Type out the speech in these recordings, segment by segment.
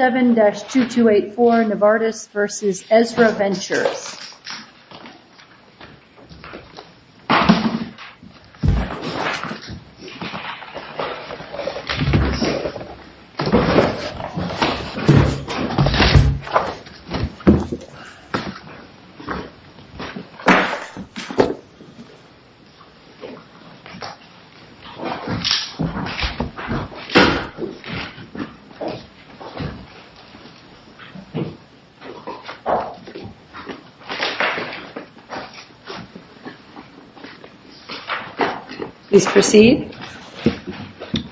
7-2284 Novartis v. Ezra Ventures May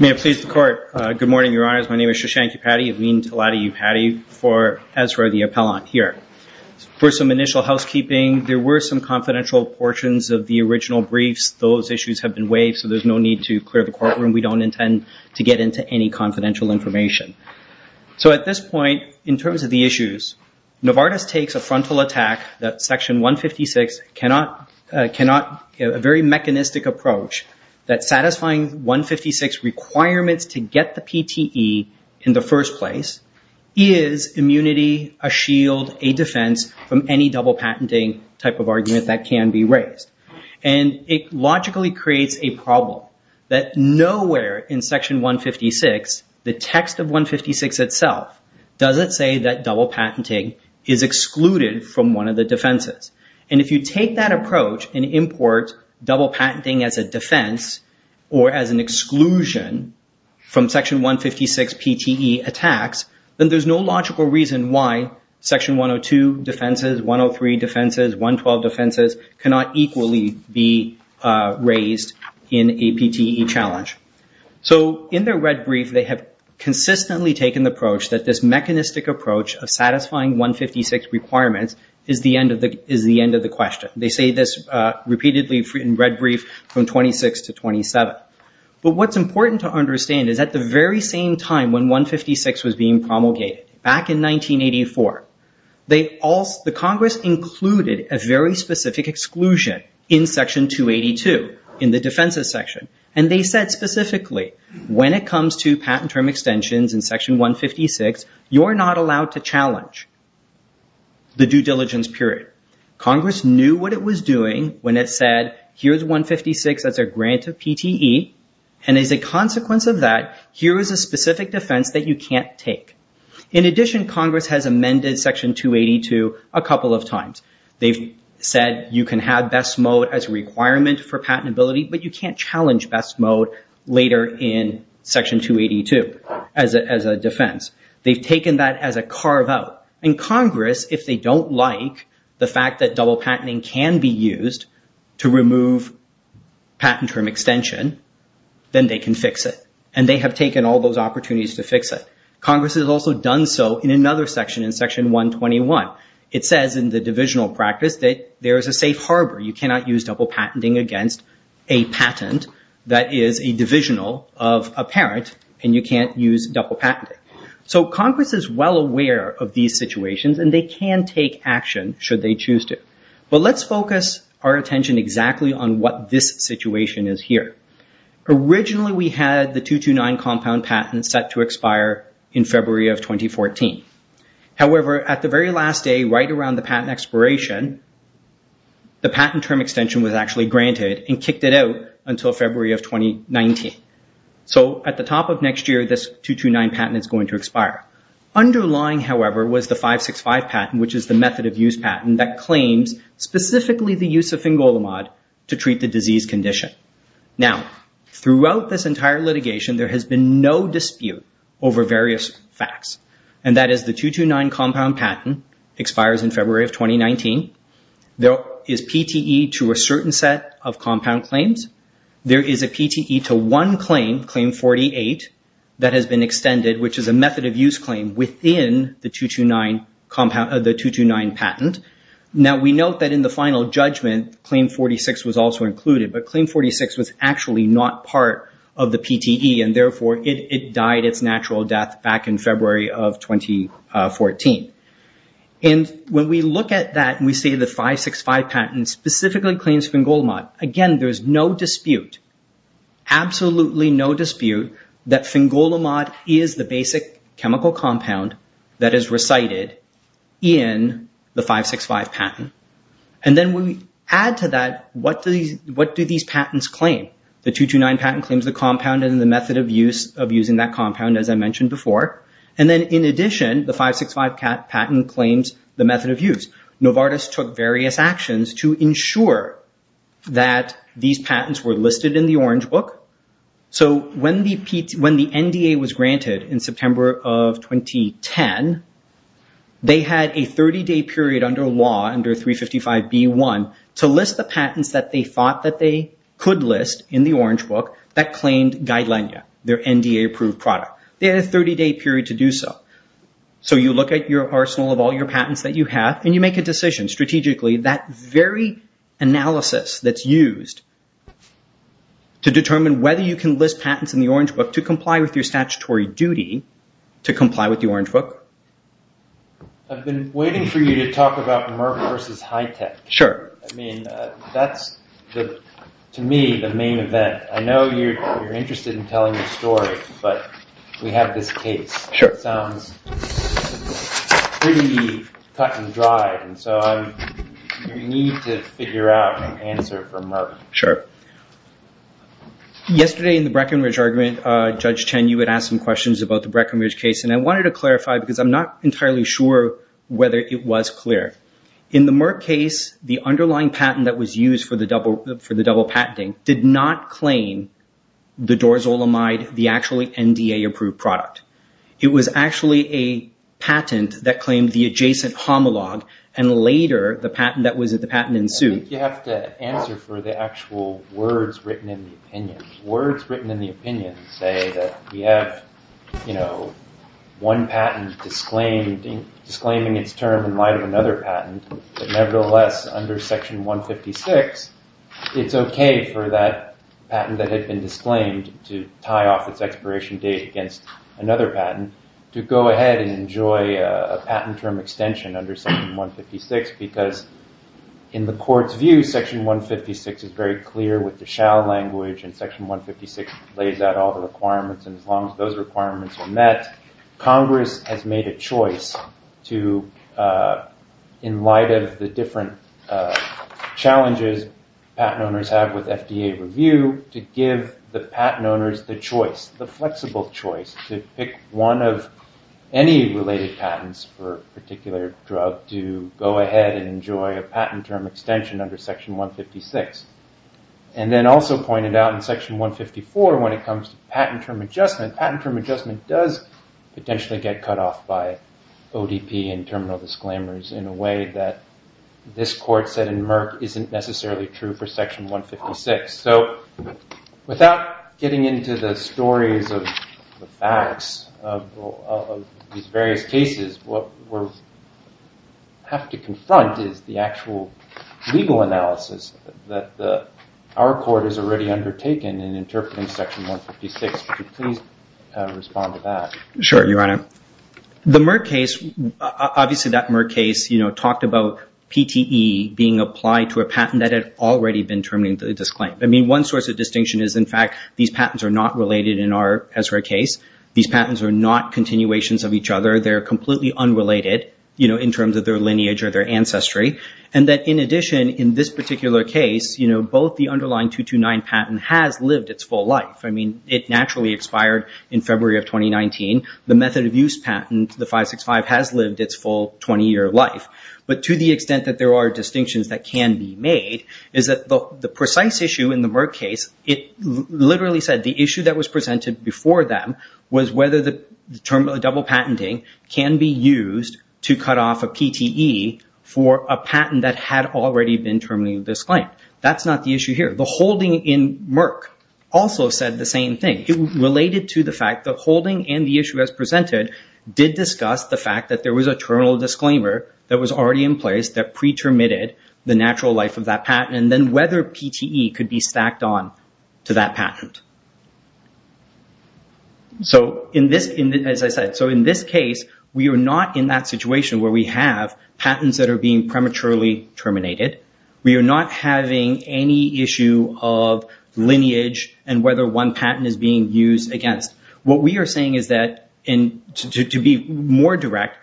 I please the Court? Good morning, Your Honours. My name is Shashank Upadhyay, I mean Tiladi Upadhyay for Ezra the Appellant here. For some initial housekeeping, there were some confidential portions of the original briefs. Those issues have been waived so there's no need to clear the courtroom. We don't intend to get into any confidential information. At this point, in terms of the issues, Novartis takes a frontal attack that Section 156, a very mechanistic approach, that satisfying 156 requirements to get the PTE in the first place is immunity, a shield, a defense from any double patenting type of argument that can be raised. It logically creates a problem that nowhere in Section 156, the text of 156 itself, does it say that double patenting is excluded from one of the defenses. If you take that approach and import double patenting as a defense or as an exclusion from Section 156 PTE attacks, then there's no logical reason why Section 102 defenses, 103 defenses, 112 defenses cannot equally be raised in a PTE challenge. In their red brief, they have consistently taken the approach that this mechanistic approach of satisfying 156 requirements is the end of the question. They say this repeatedly in red brief from 26 to 27. What's important to understand is at the very same time when 156 was being promulgated, back in 1984, the Congress included a very specific exclusion in Section 282 in the defenses section. They said specifically, when it comes to patent term extensions in Section 156, you're not allowed to challenge the due diligence period. Congress knew what it was doing when it said, here's 156 as a grant of PTE. As a consequence of that, here is a specific defense that you can't take. In addition, Congress has amended Section 282 a couple of times. They've said you can have best mode as a requirement for patentability, but you can't challenge best mode later in Section 282 as a defense. They've taken that as a carve out. In Congress, if they don't like the fact that double patenting can be used to remove patent term extension, then they can fix it. They have taken all those opportunities to fix it. Congress has also done so in another section, in Section 121. It says in the divisional practice that there is a safe harbor. You cannot use double patenting against a patent that is a divisional of a parent, and you can't use double patenting. Congress is well aware of these situations, and they can take action should they choose to. Let's focus our attention exactly on what this situation is here. Originally, we had the 229 compound patent set to expire in February of 2014. However, at the very last day, right around the patent expiration, the patent term extension was actually granted and kicked it out until February of 2019. At the top of next year, this 229 patent is going to expire. Underlying, however, was the 565 patent, which is the method of use patent that claims specifically the use of fingolimod to treat the disease condition. Now, throughout this entire litigation, there has been no dispute over various facts, and that is the 229 compound patent expires in February of 2019. There is PTE to a certain set of compound claims. There is a PTE to one claim, Claim 48, that has been extended, which is a method of use claim within the 229 patent. Now, we note that in the final judgment, Claim 46 was also included, but Claim 46 was actually not part of the PTE, and therefore, it died its natural death back in February of 2014. When we look at that and we see the 565 patent specifically claims fingolimod, again, there's no dispute, absolutely no dispute that fingolimod is the basic chemical compound that is recited in the 565 patent. Then when we add to that, what do these patents claim? The 229 patent claims the compound and the method of use of using that compound, as I mentioned before. Then in addition, the 565 patent claims the method of use. Novartis took various actions to ensure that these patents were listed in the Orange Book. When the NDA was granted in September of 2010, they had a 30-day period under law, under 355B1, to list the patents that they thought that they could list in the Orange Book that claimed Guidelinea, their NDA-approved product. They had a 30-day period to do so. You look at your arsenal of all your patents that you have and you make a analysis that's used to determine whether you can list patents in the Orange Book to comply with your statutory duty to comply with the Orange Book. I've been waiting for you to talk about Merck versus Hitech. That's, to me, the main event. I know you're interested in telling the story, but we have this case. It sounds pretty cut and dry. You need to figure out an answer for Merck. Yesterday in the Breckenridge argument, Judge Chen, you had asked some questions about the Breckenridge case. I wanted to clarify because I'm not entirely sure whether it was clear. In the Merck case, the underlying patent that was used for the double patenting did not claim the dorazolamide, the actually NDA-approved product. It was actually a patent that claimed the adjacent homologue and later, the patent that was at the patent in suit. You have to answer for the actual words written in the opinion. Words written in the opinion say that we have one patent disclaiming its term in light of another patent, but nevertheless under Section 156, it's okay for that patent that had been disclaimed to tie off its expiration date against another patent to go ahead and enjoy a patent term extension under Section 156 because in the court's view, Section 156 is very clear with the shall language and Section 156 lays out all the requirements. As long as those requirements are met, Congress has made a choice to, in light of the different challenges patent owners have with FDA review, to give the patent owners the choice, the flexible choice, to pick one of any related patents for a particular drug to go ahead and enjoy a patent term extension under Section 156 and then also pointed out in Section 154 when it comes to patent term adjustment, patent term adjustment does potentially get cut off by ODP and terminal disclaimers in a way that this court said in Merck isn't necessarily true for Section 156. Without getting into the stories of the facts of these various cases, what we have to confront is the actual legal analysis that our court has already undertaken in interpreting Section 156. Could you please respond to that? Sure, Your Honor. The Merck case, obviously that Merck case talked about PTE being applied to a patent that had already been terminated to a disclaim. One source of distinction is in fact these patents are not related in our Ezra case. These patents are not continuations of each other. They are completely unrelated in terms of their lineage or their ancestry and that in addition, in this particular case, both the underlying 229 patent has lived its full life. It naturally expired in February of 2019. The method of use patent, the 565, has lived its full 20-year life. But to the extent that there are distinctions that can be made is that the precise issue in the Merck case, it literally said the issue that was presented before them was whether the term of double patenting can be used to cut off a PTE for a patent that had already been terminated disclaim. That's not the issue here. The holding in Merck also said the same thing. It related to the fact the holding and the issue as presented did discuss the fact that there was a terminal disclaimer that was already in place that pre-terminated the natural life of that patent and then whether PTE could be stacked on to that patent. So in this, as I said, so in this case, we are not in that situation where we have patents that are being prematurely terminated. We are not having any issue of lineage and whether one patent is being used against. What we are saying is that, and to be more direct,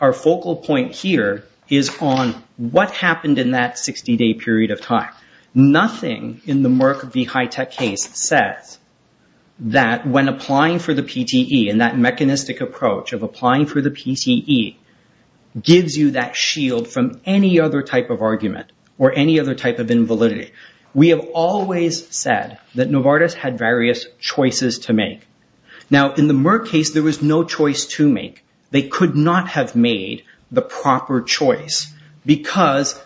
our focal point here is on what happened in that 60-day period of time. Nothing in the Merck v. HITECH case says that when applying for the PTE and that mechanistic approach of applying for the PTE gives you that shield from any other type of argument or any other type of invalidity. We have always said that Novartis had various choices to make. Now in the Merck case, there was no choice to make. They could not have made the proper choice because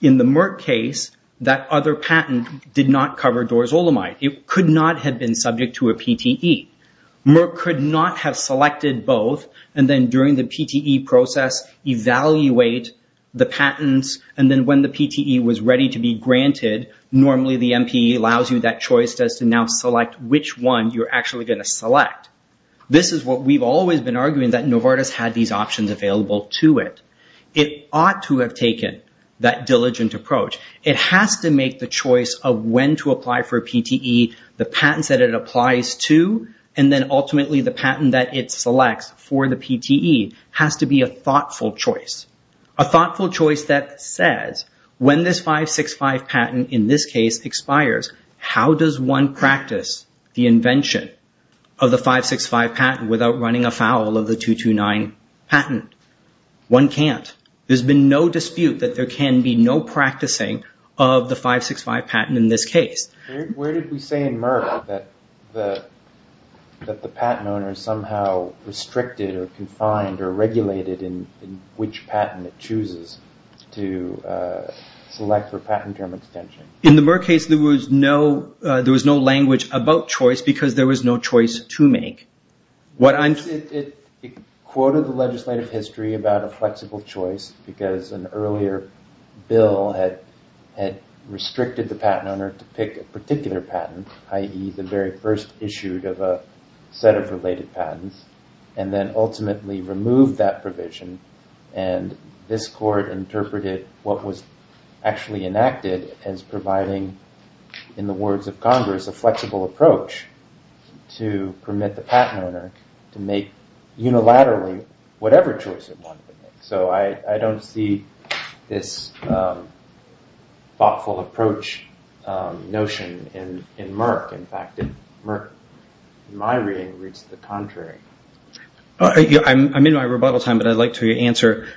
in the Merck case, that other patent did not cover dorazolamide. It could not have been subject to a PTE. Merck could not have selected both and then during the PTE process, evaluate the patents and then when the PTE was ready to be granted, normally the MPE allows you that choice to now select which one you are actually going to select. This is what we have always been arguing that Novartis had these options available to it. It ought to have taken that diligent approach. It has to make the choice of when to apply for a PTE, the patents that it applies to and then ultimately the patent that it selects for the PTE has to be a thoughtful choice. A thoughtful choice that says when this 565 patent in this case expires, how does one practice the invention of the 565 patent without running afoul of the 229 patent? One cannot. There has been no dispute that there can be practicing of the 565 patent in this case. Where did we say in Merck that the patent owner is somehow restricted or confined or regulated in which patent it chooses to select for patent term extension? In the Merck case, there was no language about choice because there was no choice to make. It quoted the legislative history about a flexible choice because an earlier bill had restricted the patent owner to pick a particular patent, i.e. the very first issued of a set of related patents and then ultimately removed that provision and this court interpreted what was actually enacted as providing in the words of Congress a flexible approach to permit the patent owner to make unilaterally whatever choice they wanted. I don't see this thoughtful approach notion in Merck. In fact, Merck, in my reading, reads the contrary. I'm in my rebuttal time, but I'd like to answer.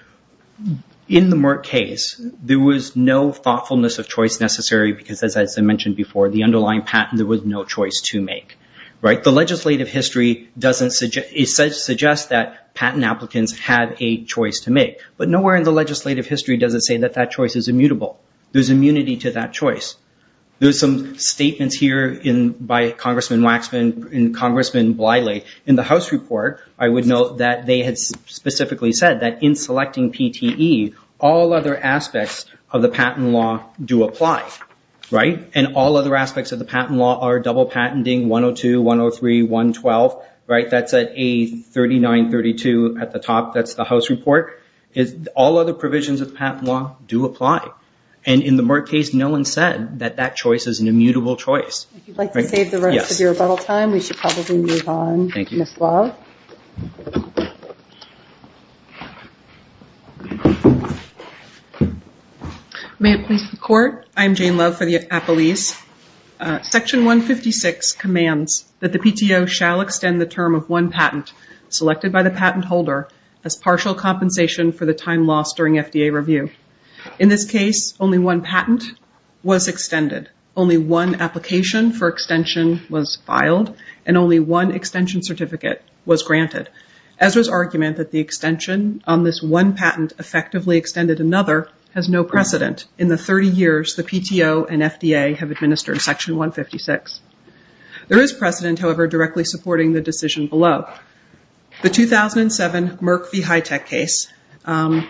In the Merck case, there was no thoughtfulness of choice necessary because as I mentioned before, the underlying patent, there was no choice to make. The legislative history suggests that patent applicants have a choice to make, but nowhere in the legislative history does it say that that choice is immutable. There's immunity to that choice. There's some statements here by Congressman Waxman and Congressman Bliley in the House report, I would note that they had specifically said that in selecting PTE, all other aspects of the patent law do apply, right? And all other aspects of the patent law are double patenting, 102, 103, 112, right? That's at A3932 at the top, that's the House report. All other provisions of patent law do apply. And in the Merck case, no one said that that choice is an immutable choice. If you'd like to save the rest of your rebuttal time, we should probably move on, Ms. Love. May it please the Court, I'm Jane Love for the Appellees. Section 156 commands that the partial compensation for the time lost during FDA review. In this case, only one patent was extended. Only one application for extension was filed, and only one extension certificate was granted. Ezra's argument that the extension on this one patent effectively extended another has no precedent. In the 30 years, the PTO and FDA have administered Section 156. There is precedent, however, directly supporting the decision below. The 2007 Merck v. Hitech case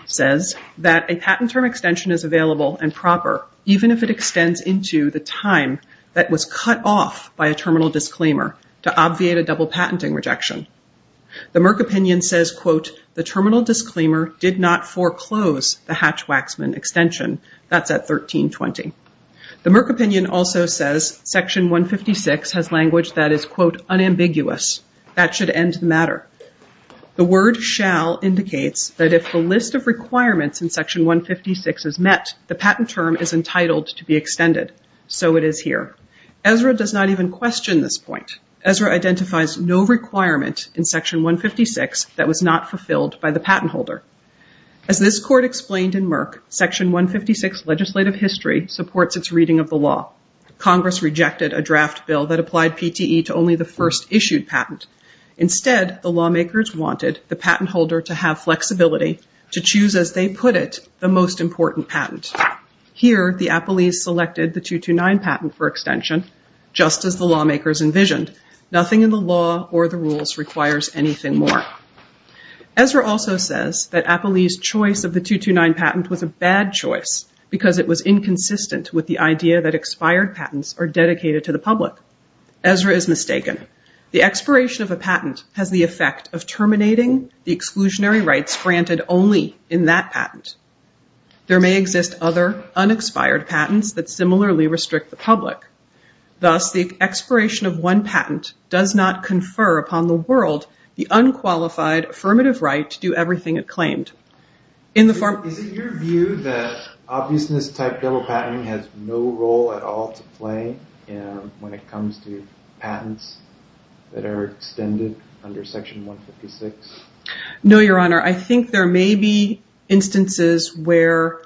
says that a patent term extension is available and proper, even if it extends into the time that was cut off by a terminal disclaimer to obviate a double patenting rejection. The Merck opinion says, quote, the terminal disclaimer did not foreclose the Hatch-Waxman extension. That's at 1320. The Merck opinion also says Section 156 has language that is, quote, unambiguous. That should end the matter. The word shall indicates that if the list of requirements in Section 156 is met, the patent term is entitled to be extended. So it is here. Ezra does not even question this point. Ezra identifies no requirement in Section 156 that was not in Section 156 legislative history supports its reading of the law. Congress rejected a draft bill that applied PTE to only the first issued patent. Instead, the lawmakers wanted the patent holder to have flexibility to choose, as they put it, the most important patent. Here, the Appellees selected the 229 patent for extension, just as the lawmakers envisioned. Nothing in the law or the rules requires anything more. Ezra also says that it was inconsistent with the idea that expired patents are dedicated to the public. Ezra is mistaken. The expiration of a patent has the effect of terminating the exclusionary rights granted only in that patent. There may exist other unexpired patents that similarly restrict the public. Thus, the expiration of one patent does not confer upon the world the unqualified affirmative right to do everything it claimed. Is it your view that obviousness-type double patenting has no role at all to play when it comes to patents that are extended under Section 156? No, Your Honor. I think there may be instances where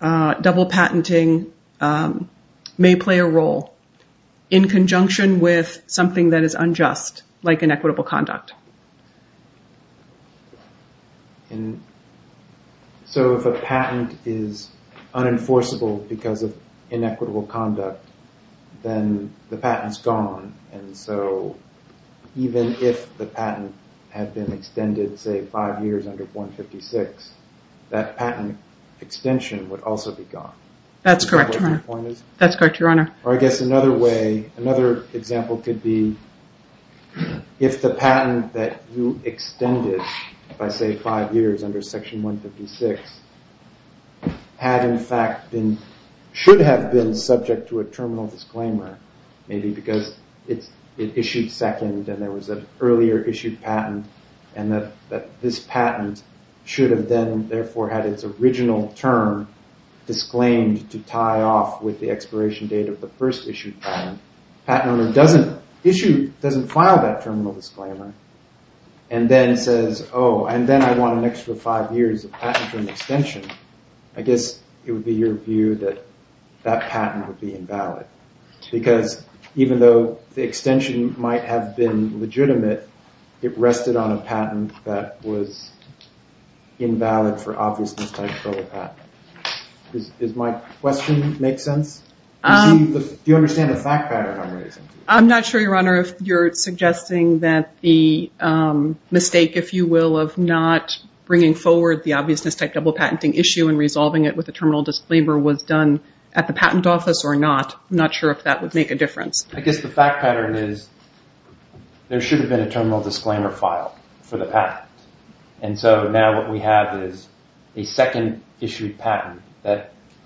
double patenting may play a role in conjunction with something that is unjust, like inequitable conduct. So, if a patent is unenforceable because of inequitable conduct, then the patent is gone, and so even if the patent had been extended, say, five years under 156, that patent extension would also be gone. That's correct. That's correct, Your Honor. Or I guess another way, another example could be if the patent that you extended by, say, five years under Section 156, should have been subject to a terminal disclaimer, maybe because it issued second and there was an earlier issued patent, and that this patent should have then, therefore, had its original term disclaimed to tie off with the expiration date of the first issued patent. The patent owner doesn't file that terminal disclaimer and then says, oh, and then I want an extra five years of patent extension. I guess it would be your view that that patent would be invalid, because even though the extension might have been legitimate, it rested on a patent that was invalid for obviousness type double patent. Does my question make sense? Do you understand the fact pattern I'm raising? I'm not sure, Your Honor, if you're suggesting that the mistake, if you will, of not bringing forward the obviousness type double patenting issue and resolving it with a terminal disclaimer was done at the patent office or not. I'm not sure if that would make a difference. I guess the fact pattern is there should have been a terminal disclaimer file for the patent. And so now what we have is a second issued patent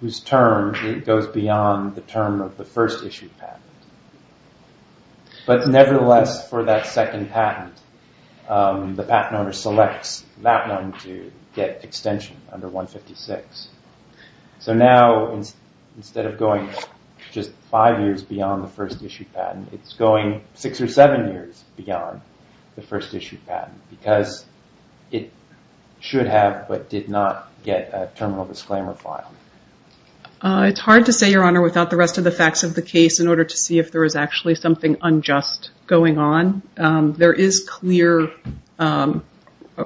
whose term goes beyond the term of the first issued patent. But nevertheless, for that second patent, the patent owner selects that one to get extension under 156. So now instead of going just five years beyond the first issued patent, it's going six or seven years beyond the first issued patent, because it should have but did not get a terminal disclaimer file. It's hard to say, Your Honor, without the rest of the facts of the case in order to see if there is actually something unjust going on. There is clear a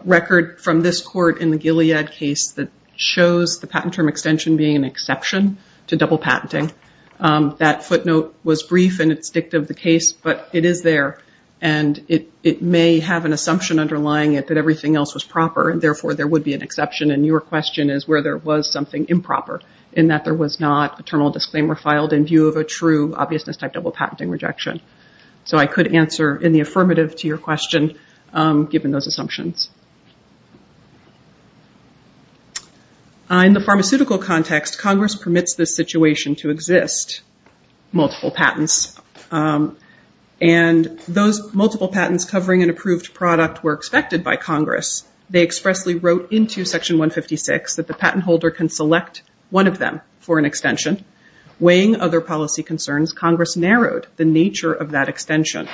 record from this court in the Gilead case that shows the patent term extension being an exception to double patenting. That footnote was brief and it's dict of the case, but it is there. And it may have an assumption underlying it that everything else was proper and therefore there would be an exception. And your question is where there was something improper in that there was not a terminal disclaimer filed in view of a true obviousness type double patenting rejection. So I could answer in the affirmative to your question, given those assumptions. In the pharmaceutical context, Congress permits this situation to exist, multiple patents. And those multiple patents covering an approved product were expected by Congress. They expressly wrote into Section 156 that the patent holder can select one of them for an extension. Weighing other policy concerns, Congress narrowed the nature of that extension.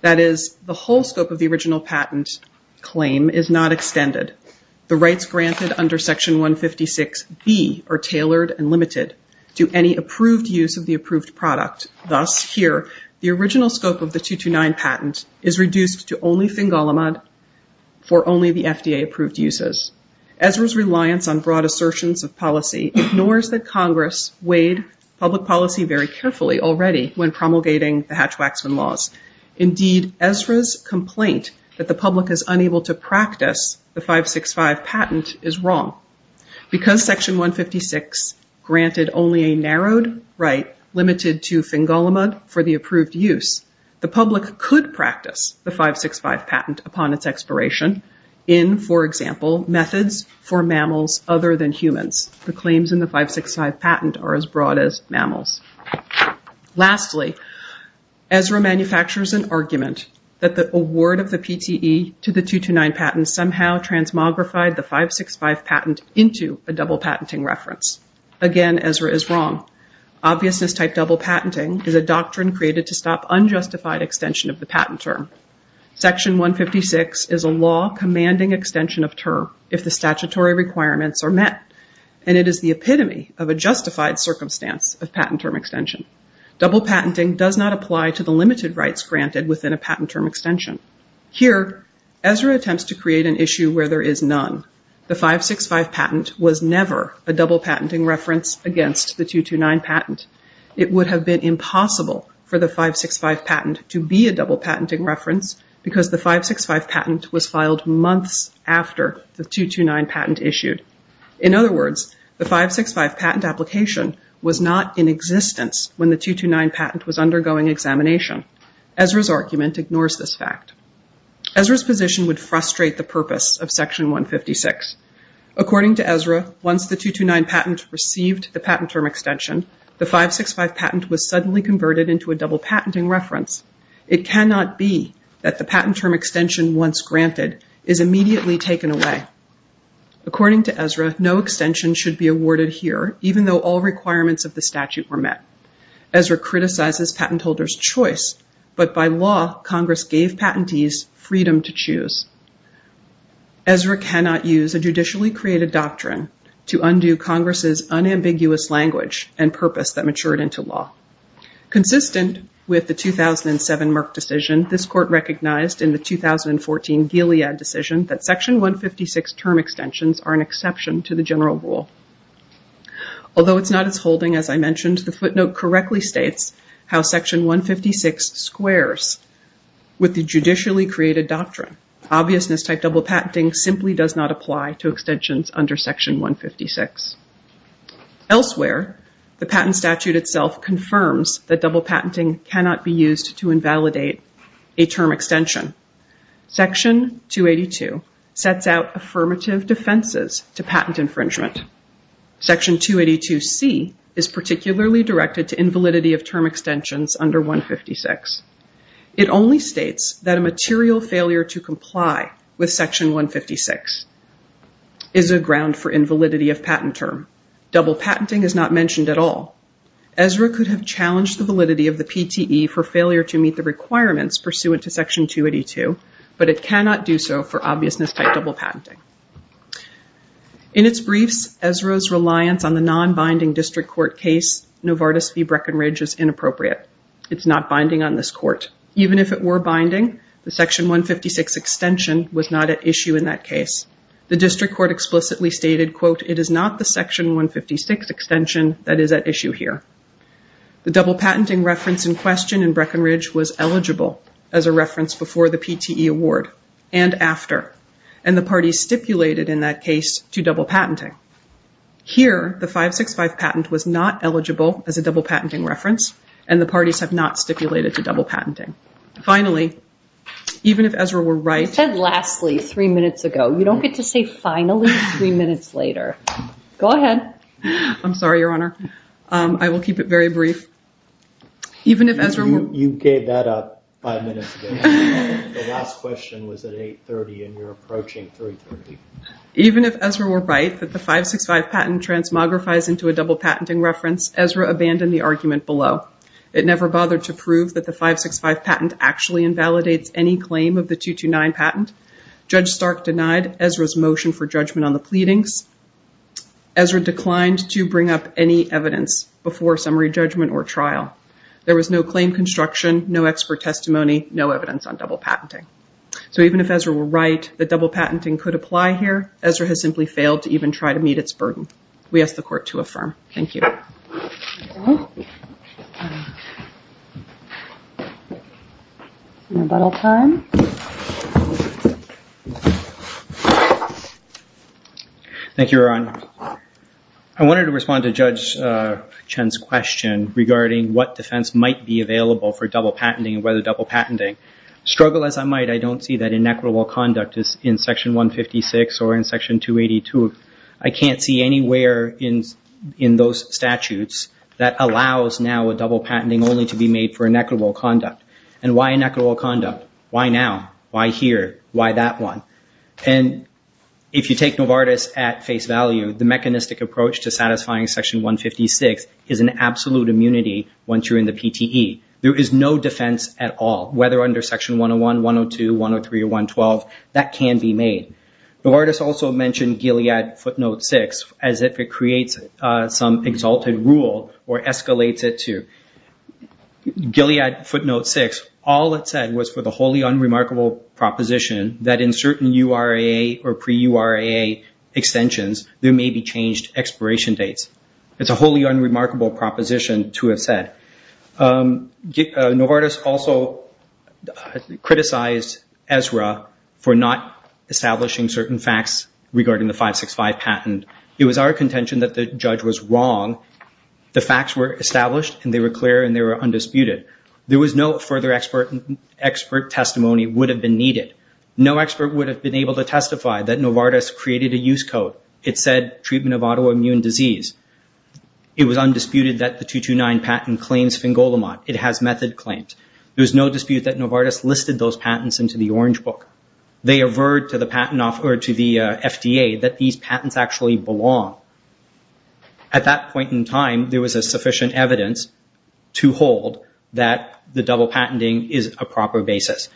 That is the whole scope of the original patent claim is not extended. The rights granted under Section 156B are tailored and limited to any approved use of the approved product. Thus, here, the original scope of the 229 patent is reduced to only Fingolimod for only the FDA approved uses. Ezra's reliance on broad assertions of policy ignores that weighed public policy very carefully already when promulgating the Hatch-Waxman laws. Indeed, Ezra's complaint that the public is unable to practice the 565 patent is wrong. Because Section 156 granted only a narrowed right limited to Fingolimod for the approved use, the public could practice the 565 patent upon its expiration in, for example, methods for mammals other than humans. The claims in the 565 patent are as broad as mammals. Lastly, Ezra manufactures an argument that the award of the PTE to the 229 patent somehow transmogrified the 565 patent into a double patenting reference. Again, Ezra is wrong. Obviousness type double patenting is a doctrine created to stop unjustified extension of the and it is the epitome of a justified circumstance of patent term extension. Double patenting does not apply to the limited rights granted within a patent term extension. Here, Ezra attempts to create an issue where there is none. The 565 patent was never a double patenting reference against the 229 patent. It would have been impossible for the 565 patent to be a double patenting reference because the 565 patent was filed months after the 229 patent issued. In other words, the 565 patent application was not in existence when the 229 patent was undergoing examination. Ezra's argument ignores this fact. Ezra's position would frustrate the purpose of section 156. According to Ezra, once the 229 patent received the patent term extension, the 565 patent was suddenly converted into a double patenting reference. It cannot be that the patent term extension once granted is immediately taken away. According to Ezra, no extension should be awarded here, even though all requirements of the statute were met. Ezra criticizes patent holders' choice, but by law, Congress gave patentees freedom to choose. Ezra cannot use a judicially created doctrine to undo Congress's unambiguous language and purpose that matured into law. Consistent with the 2007 Merck decision, this court recognized in the 2014 Gilead decision that section 156 term extensions are an exception to the general rule. Although it's not as holding as I mentioned, the footnote correctly states how section 156 squares with the judicially created doctrine. Obviousness type double patenting simply does not apply to extensions under section 156. Elsewhere, the patent statute itself confirms that double patenting cannot be used to invalidate a term extension. Section 282 sets out affirmative defenses to patent infringement. Section 282C is particularly directed to invalidity of term extensions under 156. It only states that a material failure to comply with section 156 is a ground for invalidity of patent term. Double patenting is not mentioned at all. Ezra could have challenged the validity of the PTE for failure to meet the requirements pursuant to section 282, but it cannot do so for obviousness type double patenting. In its briefs, Ezra's reliance on the non-binding district court case, Novartis v. Breckenridge is inappropriate. It's not binding on this court. Even if it were binding, the section 156 extension was not at issue in that case. The district court explicitly stated, quote, it is not the section 156 extension that is at issue here. The double patenting reference in question in Breckenridge was eligible as a reference before the PTE award and after, and the parties stipulated in that case to double patenting. Here, the 565 patent was not eligible as a double patenting reference, and the parties have not stipulated to double patenting. Finally, even if Ezra were right- You said lastly three minutes ago. You don't get to say finally three minutes later. Go ahead. I'm sorry, Your Honor. I will keep it very brief. Even if Ezra- You gave that up five minutes ago. The last question was at 830, and you're approaching 330. Even if Ezra were right that the 565 patent transmogrifies into a double patenting reference, Ezra abandoned the argument below. It never bothered to prove that the 565 patent actually invalidates any claim of the 229 patent. Judge Stark denied Ezra's motion for judgment on the pleadings. Ezra declined to bring up any evidence before summary judgment or trial. There was no claim construction, no expert testimony, no evidence on double patenting. Even if Ezra were right that double patenting could apply here, Ezra has simply failed to even try to meet its burden. We ask the court to affirm. Thank you. Rebuttal time. Thank you, Your Honor. I wanted to respond to Judge Chen's question regarding what defense might be available for double patenting and whether double patenting. Struggle as I might, I don't see that inequitable conduct in Section 156 or in Section 282. I can't see anywhere in those statutes that allows now a double patenting only to be made for inequitable conduct. Why inequitable conduct? Why now? Why here? Why that one? If you take Novartis at face value, the mechanistic approach to satisfying Section 156 is an absolute immunity once you're in the PTE. There is no defense at all, whether under Section 101, 102, 103 or 112, that can be made. Novartis also mentioned Gilead footnote 6 as if it creates some exalted rule or escalates it to Gilead footnote 6. All it said was for the wholly unremarkable proposition that in certain URAA or pre-URAA extensions, there may be changed expiration dates. It's a wholly unremarkable proposition to have said. Novartis also criticized ESRA for not establishing certain facts regarding the 565 patent. It was our contention that the judge was wrong. The facts were established and they were clear and they were undisputed. There was no further expert testimony would have been that Novartis created a use code. It said treatment of autoimmune disease. It was undisputed that the 229 patent claims Fingolimod. It has method claims. There was no dispute that Novartis listed those patents into the Orange Book. They averred to the FDA that these patents actually belong. At that point in time, there was sufficient evidence to hold that the double circumstances.